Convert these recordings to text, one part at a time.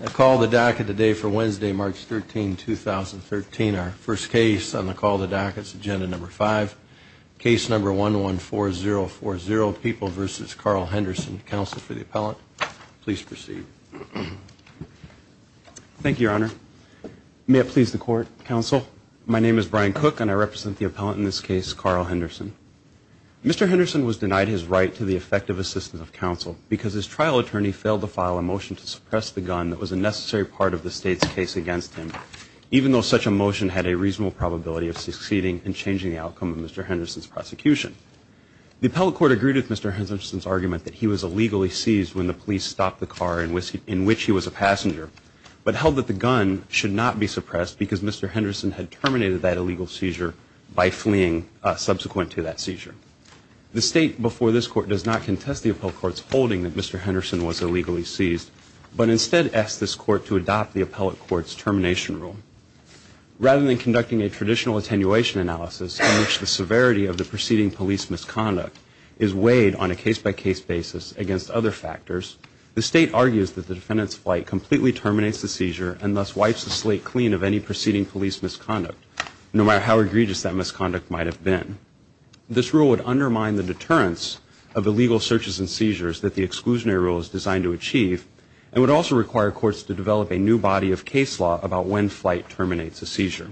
I call the docket today for Wednesday March 13 2013 our first case on the call the dockets agenda number five case number 1 1 4 0 4 0 people versus Carl Henderson counsel for the appellant please proceed thank you your honor may it please the court counsel my name is Brian cook and I represent the appellant in this case Carl Henderson mr. Henderson was denied his right to the effective assistance of counsel because his trial attorney failed to file a motion to gun that was a necessary part of the state's case against him even though such a motion had a reasonable probability of succeeding and changing the outcome of mr. Henderson's prosecution the appellate court agreed with mr. Henderson's argument that he was illegally seized when the police stopped the car and whiskey in which he was a passenger but held that the gun should not be suppressed because mr. Henderson had terminated that illegal seizure by fleeing subsequent to that seizure the state before this court does not contest the appellate courts holding that mr. Henderson was illegally seized but instead asked this court to adopt the appellate courts termination rule rather than conducting a traditional attenuation analysis in which the severity of the preceding police misconduct is weighed on a case-by-case basis against other factors the state argues that the defendants flight completely terminates the seizure and thus wipes the slate clean of any preceding police misconduct no matter how egregious that misconduct might have been this rule would undermine the deterrence of illegal searches and would also require courts to develop a new body of case law about when flight terminates a seizure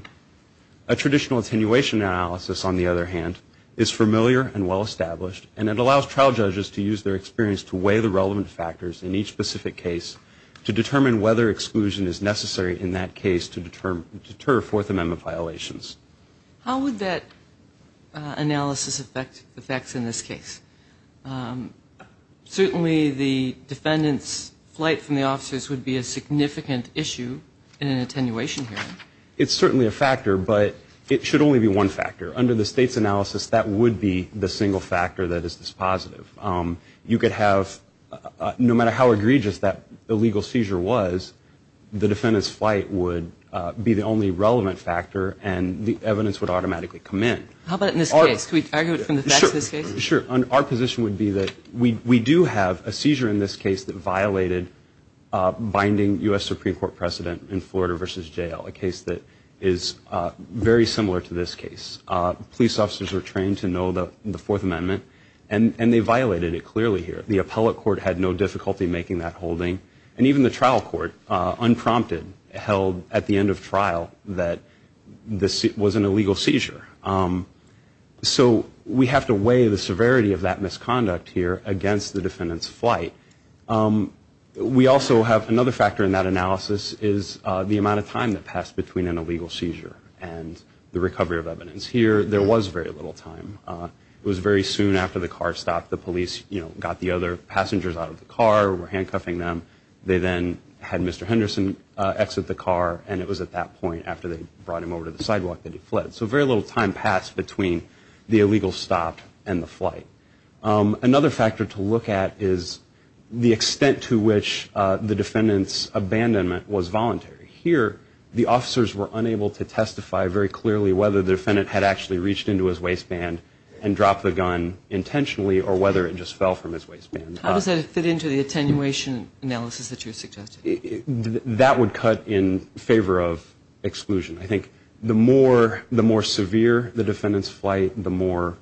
a traditional attenuation analysis on the other hand is familiar and well-established and it allows trial judges to use their experience to weigh the relevant factors in each specific case to determine whether exclusion is necessary in that case to determine deter Fourth Amendment violations how would that analysis affect the facts in this case certainly the defendants flight from the officers would be a significant issue in an attenuation here it's certainly a factor but it should only be one factor under the state's analysis that would be the single factor that is this positive you could have no matter how egregious that the legal seizure was the defendants flight would be the only relevant factor and the evidence would automatically come in how about in this case we argue it from this case sure on our position would be that we do have a seizure in this case that violated binding US Supreme Court precedent in Florida versus jail a case that is very similar to this case police officers are trained to know that the Fourth Amendment and and they violated it clearly here the appellate court had no difficulty making that holding and even the trial court unprompted held at the end of trial that this was an illegal seizure so we have to weigh the severity of that misconduct here against the defendants flight we also have another factor in that analysis is the amount of time that passed between an illegal seizure and the recovery of evidence here there was very little time it was very soon after the car stopped the police you know got the other passengers out of the car were handcuffing them they then had mr. Henderson exit the car and it was at that point after they brought him over to the sidewalk that he fled so very little time passed between the illegal stopped and the flight another factor to look at is the extent to which the defendants abandonment was voluntary here the officers were unable to testify very clearly whether the defendant had actually reached into his waistband and dropped the gun intentionally or whether it just fell from his waistband how does that fit into the attenuation analysis that you suggested that would cut in favor of exclusion I think the more the more severe the defendants flight the more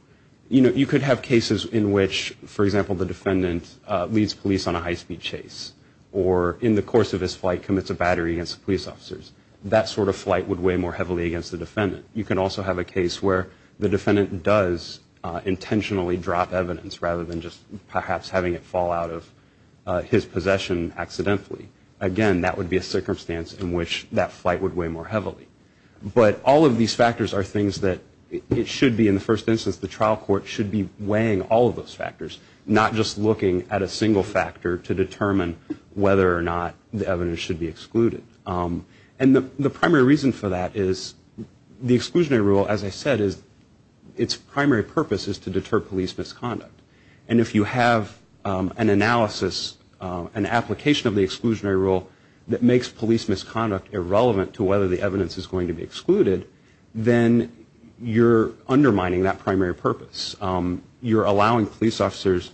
you know you could have cases in which for example the defendant leads police on a high-speed chase or in the course of his flight commits a battery against police officers that sort of flight would weigh more heavily against the defendant you can also have a case where the defendant does intentionally drop evidence rather than just perhaps having it fall out of his possession accidentally again that would be a circumstance in which that flight would weigh more heavily but all of these factors are things that it should be in the first instance the trial court should be weighing all of those factors not just looking at a single factor to determine whether or not the evidence should be excluded and the primary reason for that is the exclusionary rule as I said is its primary purpose is to an analysis an application of the exclusionary rule that makes police misconduct irrelevant to whether the evidence is going to be excluded then you're undermining that primary purpose you're allowing police officers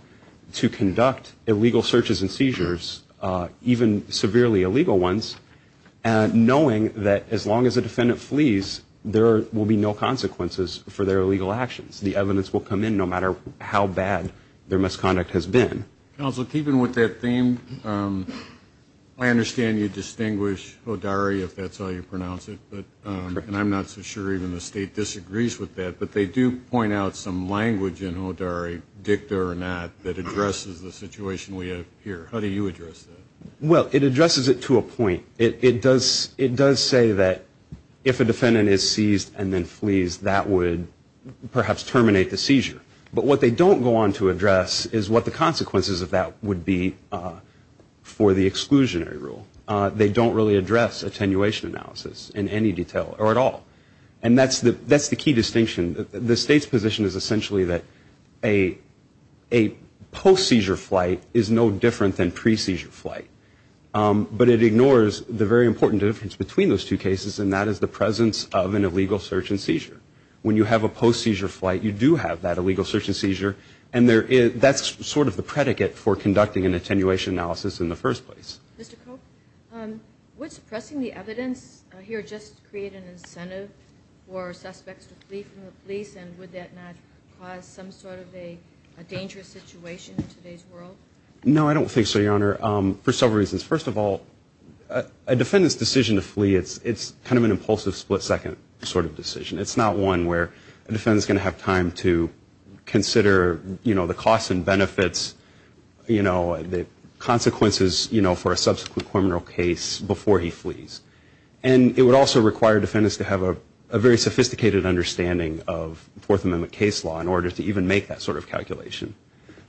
to conduct illegal searches and seizures even severely illegal ones and knowing that as long as a defendant flees there will be no consequences for their legal actions the evidence will come in no matter how bad their misconduct has been also keeping with that theme I understand you distinguish Hodari if that's how you pronounce it but and I'm not so sure even the state disagrees with that but they do point out some language in Hodari dicta or not that addresses the situation we have here how do you address that well it addresses it to a point it does it does say that if a defendant is seized and then flees that would perhaps terminate the seizure but what they don't go on to address is what the consequences of that would be for the exclusionary rule they don't really address attenuation analysis in any detail or at all and that's the that's the key distinction the state's position is essentially that a a post seizure flight is no different than pre seizure flight but it ignores the very important difference between those two cases and that is the presence of an illegal search and seizure when you have a post seizure flight you do have that illegal search and seizure and there is that's sort of the predicate for conducting an attenuation analysis in the first place what's suppressing the evidence here just create an incentive for suspects to flee from the police and would that not cause some sort of a dangerous situation in today's world no I don't think so your honor for several reasons first of all a defendant's decision to flee it's it's kind of an impulsive split-second sort of decision it's not one where a defendant's going to have time to consider you know the costs and benefits you know the consequences you know for a subsequent criminal case before he flees and it would also require defendants to have a very sophisticated understanding of fourth amendment case law in order to even make that sort of calculation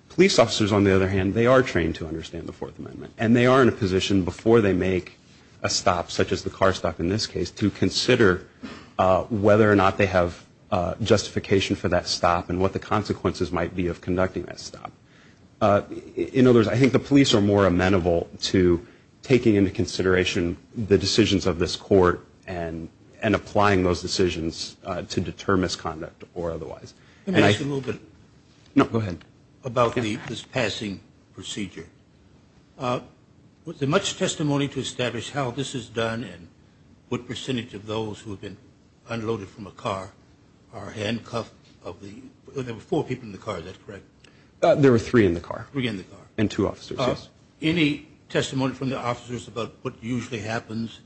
police officers on the other hand they are trained to understand the fourth amendment and they are in a position before they make a stop such as the car stop in this case to consider whether or not they have justification for that stop and what the consequences might be of conducting that stop in other words I think the police are more amenable to taking into consideration the decisions of this court and and applying those decisions to deter misconduct or otherwise and I a little bit no go ahead about this passing procedure with the testimony to establish how this is done and what percentage of those who have been unloaded from a car are handcuffed of the there were four people in the car that's correct there were three in the car we in the car and two officers any testimony from the officers about what usually happens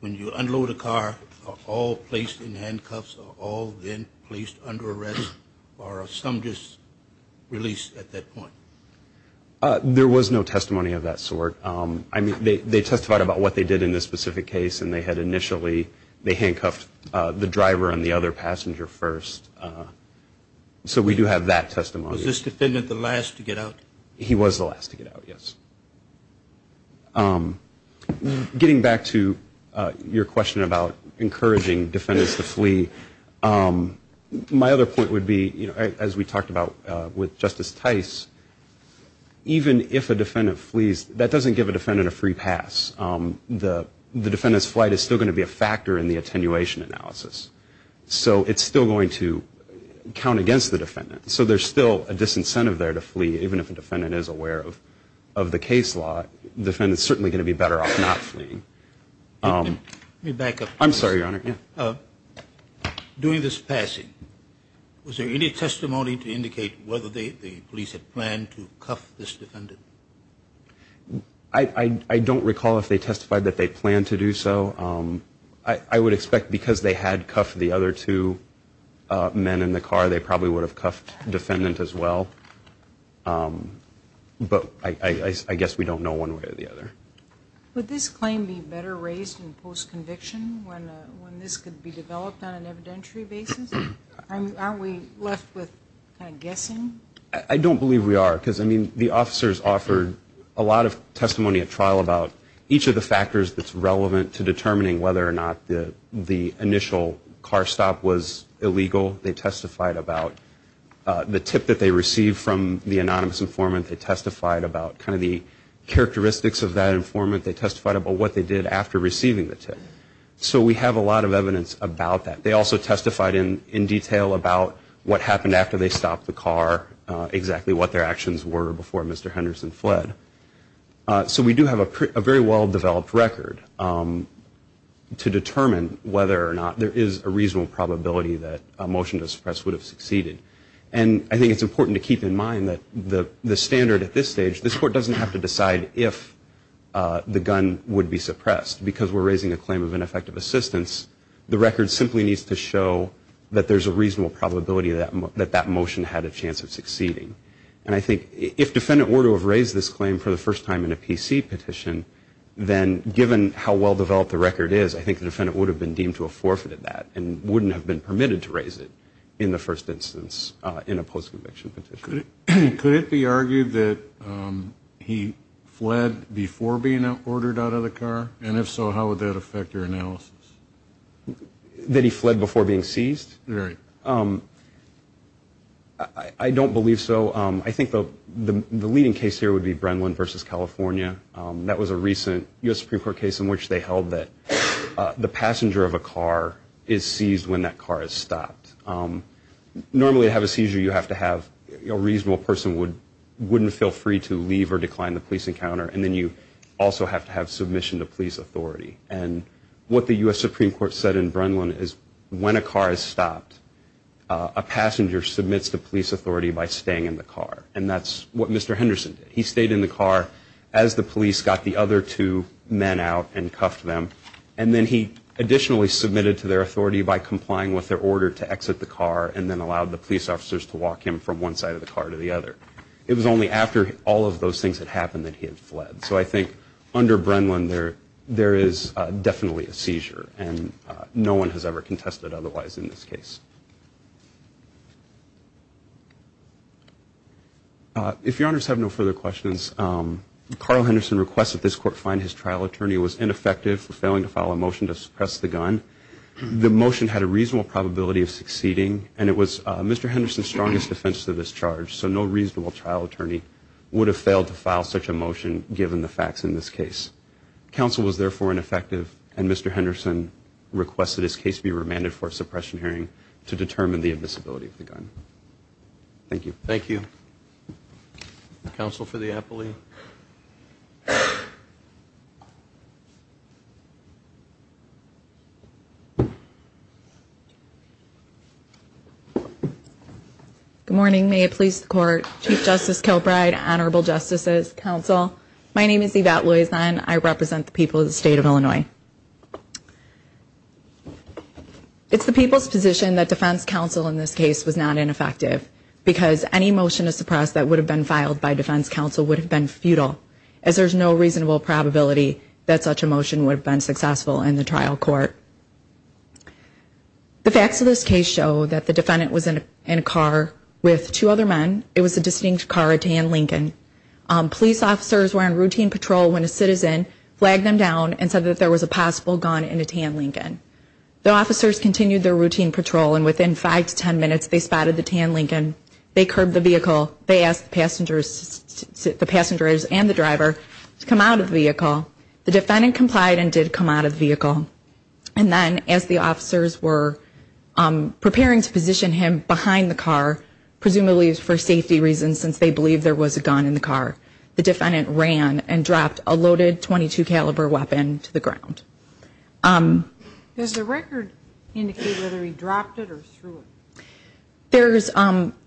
when you unload a car all placed in handcuffs all been placed under arrest or some just released at that point there was no testimony of that sort I mean they they testified about what they did in this specific case and they had initially they handcuffed the driver and the other passenger first so we do have that testimony was this defendant the last to get out he was the last to get out yes getting back to your question about encouraging defendants to flee my other point would be you know as we talked about with Justice Tice even if a defendant flees that doesn't give a defendant a free pass the the defendants flight is still going to be a factor in the attenuation analysis so it's still going to count against the defendant so there's still a disincentive there to flee even if a defendant is aware of of the case law defendants certainly going to be better off not fleeing I don't recall if they testified that they plan to do so I would expect because they had cuffed the other two men in the car they probably would have cuffed defendant as well but I guess we don't know one way or the other I don't believe we are because I mean the officers offered a lot of testimony at trial about each of the factors that's relevant to determining whether or not the the initial car stop was illegal they testified about the tip that they received from the anonymous informant they testified about kind of the characteristics of that informant they testified about what they did after receiving the tip so we have a lot of evidence about that they also testified in in detail about what happened after they stopped the car exactly what their actions were before Mr. Henderson fled so we do have a very well-developed record to determine whether or not there is a reasonable probability that a motion to suppress would have succeeded and I think it's important to keep in mind that the the standard at this stage this court doesn't have to decide if the gun would be suppressed because we're raising a claim of ineffective assistance the record simply needs to show that there's a reasonable probability that that motion had a chance of succeeding and I think if defendant were to have raised this claim for the first time in a PC petition then given how well-developed the record is I think the defendant would have been deemed to have forfeited that and first instance in a post-conviction petition. Could it be argued that he fled before being ordered out of the car and if so how would that affect your analysis? That he fled before being seized? Right. I don't believe so I think the the leading case here would be Brenlin versus California that was a recent US Supreme Court case in which they held that the passenger of a car is normally have a seizure you have to have a reasonable person would wouldn't feel free to leave or decline the police encounter and then you also have to have submission to police authority and what the US Supreme Court said in Brenlin is when a car is stopped a passenger submits to police authority by staying in the car and that's what Mr. Henderson he stayed in the car as the police got the other two men out and cuffed them and then he additionally submitted to their authority by complying with their order to exit the car and then allowed the police officers to walk him from one side of the car to the other. It was only after all of those things that happened that he had fled so I think under Brenlin there there is definitely a seizure and no one has ever contested otherwise in this case. If your honors have no further questions Carl Henderson requests that this court find his trial attorney was ineffective for failing to motion to suppress the gun. The motion had a reasonable probability of succeeding and it was Mr. Henderson's strongest defense to this charge so no reasonable trial attorney would have failed to file such a motion given the facts in this case. Counsel was therefore ineffective and Mr. Henderson requested his case be remanded for suppression hearing to determine the admissibility of the gun. Thank you. Thank you. Counsel for the appellee. Good morning. May it please the court. Chief Justice Kilbride, Honorable Justices, Counsel. My name is Yvette Luis and I represent the people of the state of Illinois. It's the people's position that defense counsel in this case was not ineffective because any motion to suppress that would have been filed by defense counsel would have been futile as there's no reasonable probability that such a motion would have been successful in the trial court. The facts of this case show that the defendant was in a car with two other men. It was a distinct car, a tan Lincoln. Police officers were on routine patrol when a citizen flagged them down and said that there was a possible gun in a tan Lincoln. The officers continued their routine patrol and within five to ten minutes they spotted the tan Lincoln. They curbed the vehicle. They asked the passengers and the driver to come out of the vehicle. The defendant complied and did come out of the vehicle. And then as the officers were preparing to position him behind the car, presumably for safety reasons since they believed there was a gun in the car, the defendant ran and dropped a loaded .22 caliber weapon to the ground. Does the record indicate whether he dropped it or threw it? There's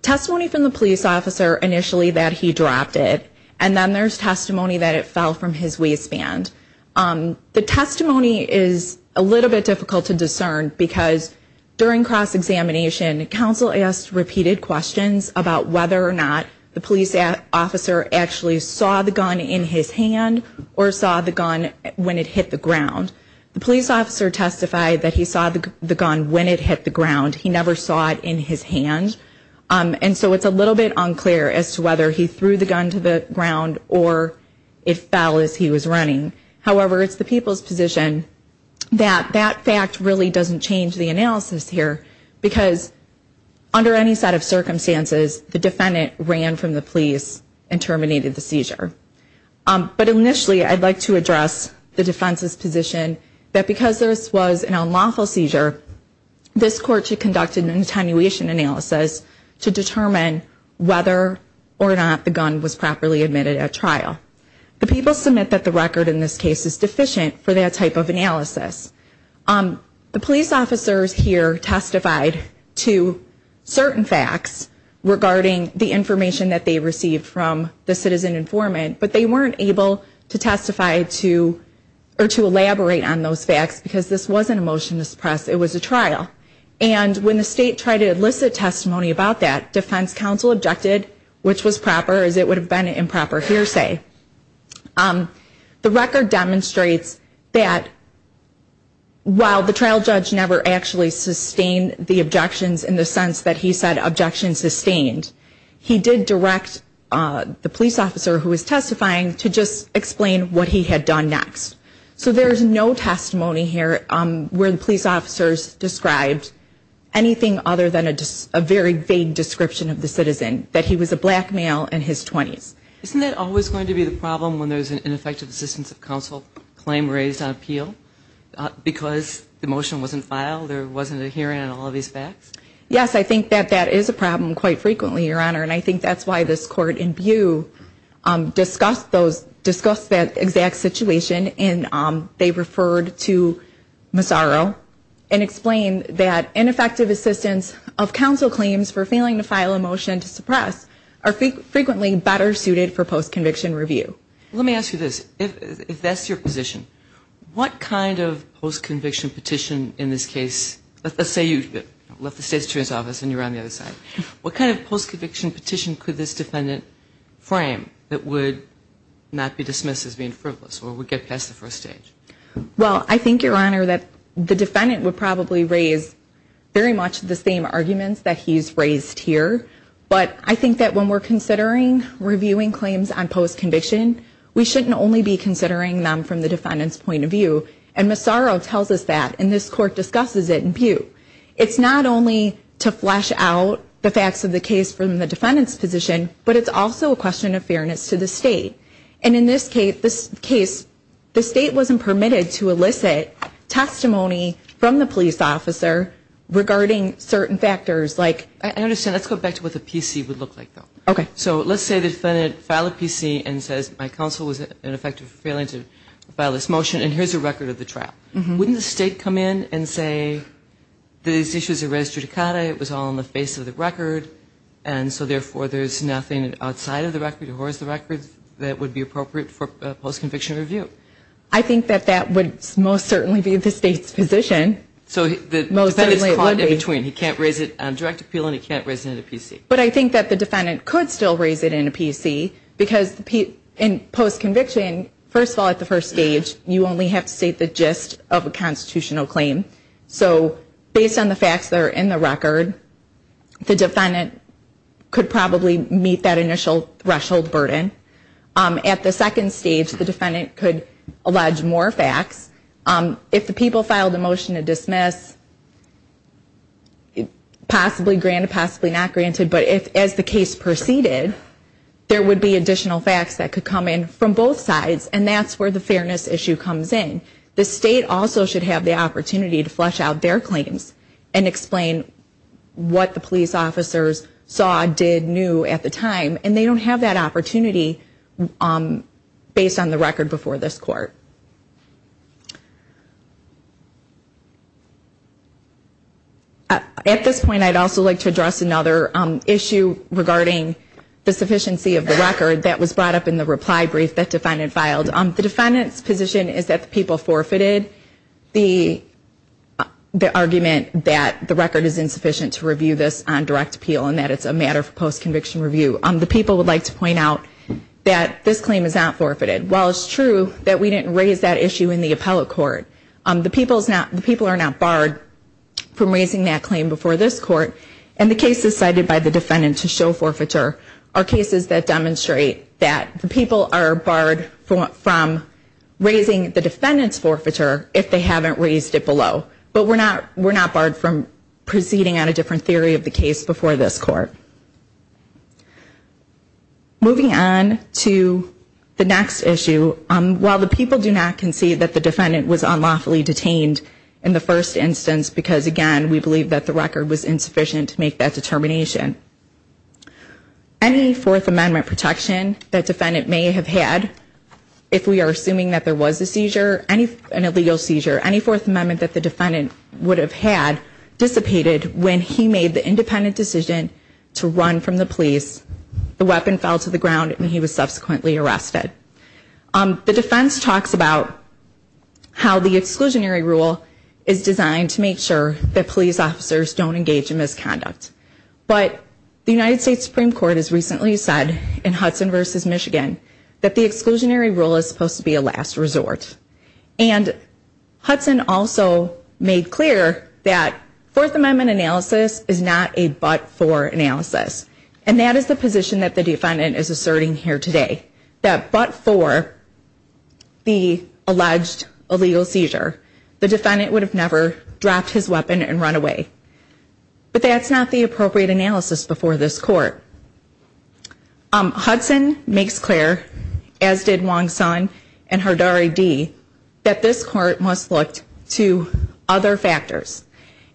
testimony from the police officer initially that he dropped it and then there's testimony that it fell from his waistband. The testimony is a little bit difficult to discern because during cross-examination counsel asked repeated questions about whether or not the police officer actually saw the gun in his hand or saw the gun when it hit the ground. The police officer testified that he saw the gun when it hit the ground. He never saw it in his hand. And so it's a little bit unclear as to whether he threw the gun to the ground or it fell as he was running. However, it's the people's position that that fact really doesn't change the analysis here because under any set of circumstances the defendant ran from the police and terminated the seizure. But initially I'd like to address the defense's position that because this was an unlawful seizure this court should conduct an attenuation analysis to determine whether or not the gun was properly admitted at trial. The people submit that the record in this case is deficient for that type of analysis. The police officers here testified to certain facts regarding the information that they received from the citizen informant but they weren't able to testify to or to elaborate on those facts because this wasn't a motion to elicit testimony about that. Defense counsel objected, which was proper as it would have been an improper hearsay. The record demonstrates that while the trial judge never actually sustained the objections in the sense that he said objections sustained, he did direct the police officer who was testifying to just explain what he had done next. So there's no testimony here where the very vague description of the citizen, that he was a black male in his 20s. Isn't it always going to be the problem when there's an ineffective assistance of counsel claim raised on appeal because the motion wasn't filed, there wasn't a hearing on all of these facts? Yes, I think that that is a problem quite frequently, Your Honor, and I think that's why this court in Butte discussed that exact situation and they referred to counsel claims for failing to file a motion to suppress are frequently better suited for post-conviction review. Let me ask you this, if that's your position, what kind of post-conviction petition in this case, let's say you left the State's Attorney's Office and you're on the other side, what kind of post-conviction petition could this defendant frame that would not be dismissed as being frivolous or would get past the first stage? Well, I think, Your Honor, that the defendant would probably raise very much the same arguments that he's raised here, but I think that when we're considering reviewing claims on post-conviction, we shouldn't only be considering them from the defendant's point of view. And Massaro tells us that and this court discusses it in Butte. It's not only to flesh out the facts of the case from the defendant's position, but it's also a question of fairness to the State. And in this case, the State wasn't permitted to elicit testimony from the defendants. I understand. Let's go back to what the PC would look like, though. Okay. So let's say the defendant filed a PC and says, my counsel was ineffective for failing to file this motion, and here's a record of the trial. Wouldn't the State come in and say, these issues are registered cata, it was all on the face of the record, and so therefore there's nothing outside of the record or as the record that would be appropriate for post-conviction review? I think that that would most certainly be the State's position. So the defendant is caught in between. He can't raise it on direct appeal and he can't raise it in a PC. But I think that the defendant could still raise it in a PC because in post-conviction, first of all, at the first stage, you only have to state the gist of a constitutional claim. So based on the facts that are in the record, the defendant could probably meet that initial threshold burden. At the second stage, the defendant could file the motion to dismiss, possibly granted, possibly not granted, but if as the case proceeded, there would be additional facts that could come in from both sides, and that's where the fairness issue comes in. The State also should have the opportunity to flesh out their claims and explain what the police officers saw, did, knew at the time, and they don't have that opportunity based on the record before this Court. At this point, I'd also like to address another issue regarding the sufficiency of the record that was brought up in the reply brief that the defendant filed. The defendant's position is that the people forfeited the argument that the record is insufficient to review this on direct appeal and that it's a matter for post-conviction review. The people would like to point out that this claim is not forfeited. While it's true that we didn't raise that issue in the appellate court, the people are not barred from raising that claim before this Court, and the cases cited by the defendant to show forfeiture are cases that demonstrate that the people are barred from raising the defendant's forfeiture if they haven't raised it below. But we're not barred from proceeding on a different theory of the case before this Court. Moving on to the next issue, while the people do not concede that the defendant was unlawfully detained in the first instance because, again, we believe that the record was insufficient to make that determination, any Fourth Amendment protection that defendant may have had, if we are assuming that there was a seizure, an illegal seizure, any Fourth Amendment that the defendant would have had dissipated when he made the independent decision to run from the police, the weapon fell to the ground and he was subsequently arrested. The defense talks about how the exclusionary rule is designed to make sure that police officers don't engage in misconduct. But the United States Supreme Court has recently said in Hudson v. Michigan that the exclusionary rule is supposed to be a last resort. And Hudson also made clear that Fourth Amendment analysis is not a but-for analysis. And that is the position that the defendant is asserting here today. That but-for the alleged illegal seizure, the defendant would have never dropped his weapon and run away. But that's not the appropriate analysis before this Court. Hudson makes clear, as did Wong-Sun and Hardari-Dee, that this Court must look to other factors.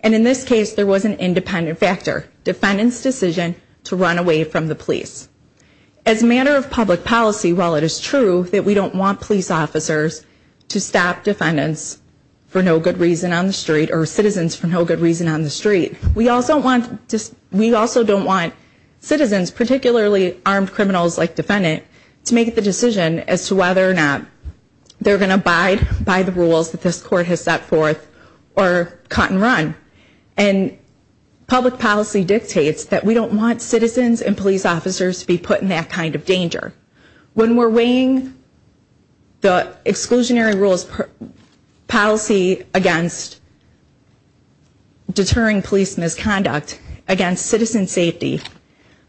And in this case, there was an independent factor, defendant's decision to run away from the police. As a matter of public policy, while it is true that we don't want police officers to stop defendants for no good reason on the street or citizens for no good reason on the street, we also don't want citizens, particularly armed criminals like defendant, to make the decision as to whether or not they're going to abide by the rules that this Court has set forth or cut and run. And public policy dictates that we don't want citizens and police officers to be put in that kind of danger. When we're weighing the exclusionary rules policy against deterring police misconduct against citizen safety,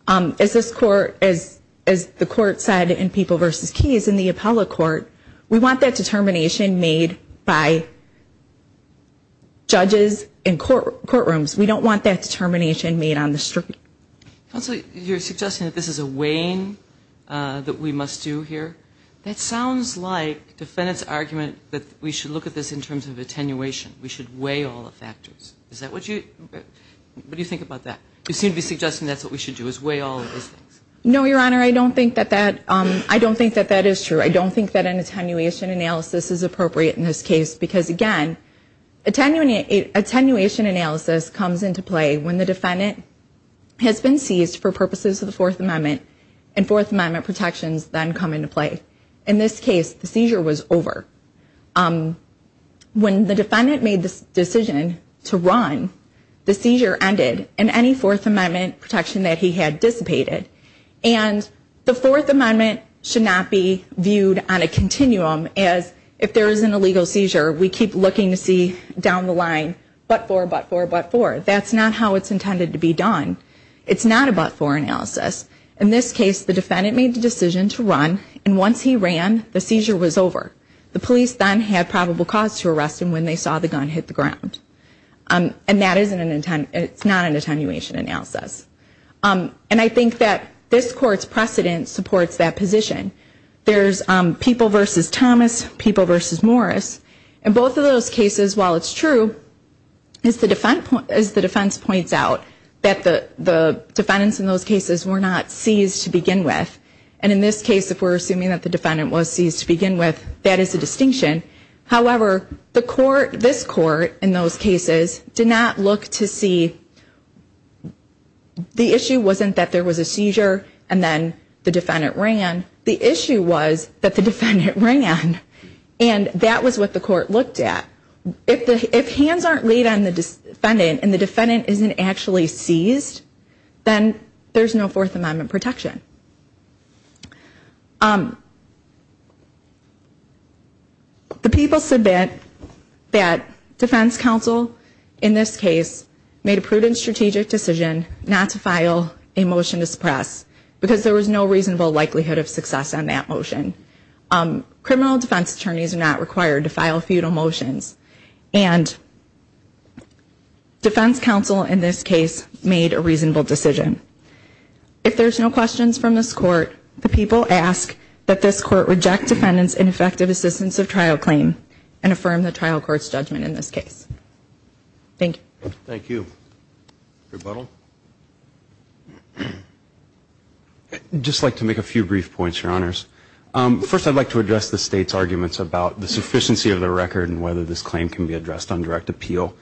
as this Court, as the Court said in People v. Keys in the appellate court, we want that determination made by judges in courtrooms. We don't want that determination made on the street. Counsel, you're suggesting that this is a weighing that we must do here. That sounds like defendant's argument that we should look at this in terms of that. You seem to be suggesting that's what we should do, is weigh all of these things. No, Your Honor. I don't think that that is true. I don't think that an attenuation analysis is appropriate in this case because, again, attenuation analysis comes into play when the defendant has been seized for purposes of the Fourth Amendment and Fourth Amendment protections then come into play. In this case, the seizure was over. When the defendant made the decision to run, and any Fourth Amendment protection that he had dissipated, and the Fourth Amendment should not be viewed on a continuum as if there is an illegal seizure, we keep looking to see down the line, but for, but for, but for. That's not how it's intended to be done. It's not a but for analysis. In this case, the defendant made the decision to run, and once he ran, the seizure was over. The police then had probable cause to arrest him when they saw the gun hit the ground. And that is not an attenuation analysis. And I think that this Court's precedent supports that position. There's people versus Thomas, people versus Morris. In both of those cases, while it's true, as the defense points out, that the defendants in those cases were not seized to begin with. And in this case, if we're assuming that the this Court, in those cases, did not look to see, the issue wasn't that there was a seizure, and then the defendant ran. The issue was that the defendant ran. And that was what the Court looked at. If the, if hands aren't laid on the defendant, and the defendant isn't actually seized, then there's no amendment protection. The people submit that defense counsel, in this case, made a prudent strategic decision not to file a motion to suppress, because there was no reasonable likelihood of success on that motion. Criminal defense attorneys are not required to file feudal motions. And defense counsel, in this case, made a If there's no questions from this Court, the people ask that this Court reject defendants ineffective assistance of trial claim, and affirm the trial court's judgment in this case. Thank you. Thank you. Rebuttal? I'd just like to make a few brief points, your honors. First, I'd like to address the State's arguments about the sufficiency of the record, and whether this claim can be addressed on direct appeal.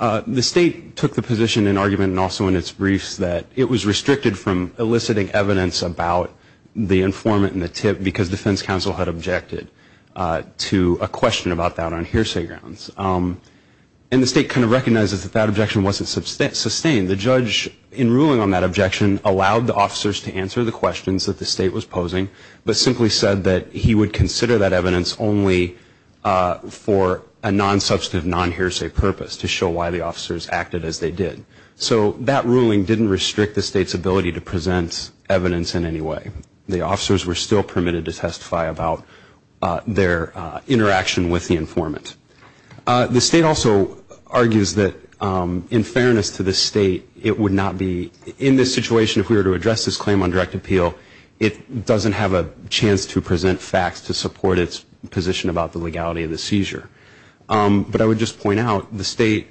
The State took the position in argument, and also in its eliciting evidence about the informant and the tip, because defense counsel had objected to a question about that on hearsay grounds. And the State kind of recognizes that that objection wasn't sustained. The judge, in ruling on that objection, allowed the officers to answer the questions that the State was posing, but simply said that he would consider that evidence only for a non-substantive, non-hearsay purpose, to show why the officers acted as they did. So that ruling didn't restrict the State's ability to present evidence in any way. The officers were still permitted to testify about their interaction with the informant. The State also argues that, in fairness to the State, it would not be, in this situation, if we were to address this claim on direct appeal, it doesn't have a chance to present facts to support its position about the legality of the seizure. But I would just point out, the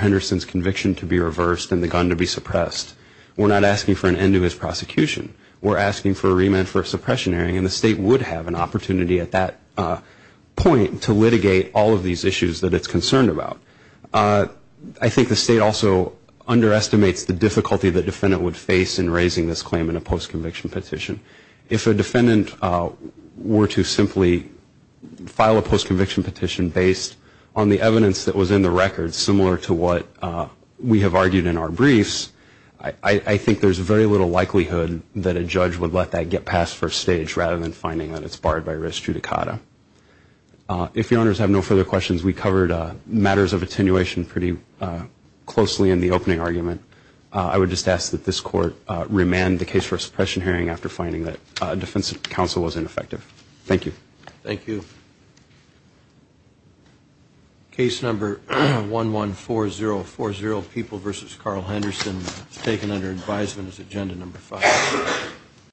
Henderson's conviction to be reversed and the gun to be suppressed, we're not asking for an end to his prosecution. We're asking for a remand for suppression hearing, and the State would have an opportunity at that point to litigate all of these issues that it's concerned about. I think the State also underestimates the difficulty the defendant would face in raising this claim in a post-conviction petition. If a defendant were to simply file a post-conviction petition based on the evidence that was in the record, similar to what we have argued in our briefs, I think there's very little likelihood that a judge would let that get past first stage, rather than finding that it's barred by res judicata. If your honors have no further questions, we covered matters of attenuation pretty closely in the opening argument. I would just ask that this Court remand the case for a suppression hearing after finding that defense counsel was ineffective. Thank you. Thank you. Case number 114040, People v. Carl Henderson, taken under advisement as agenda number five.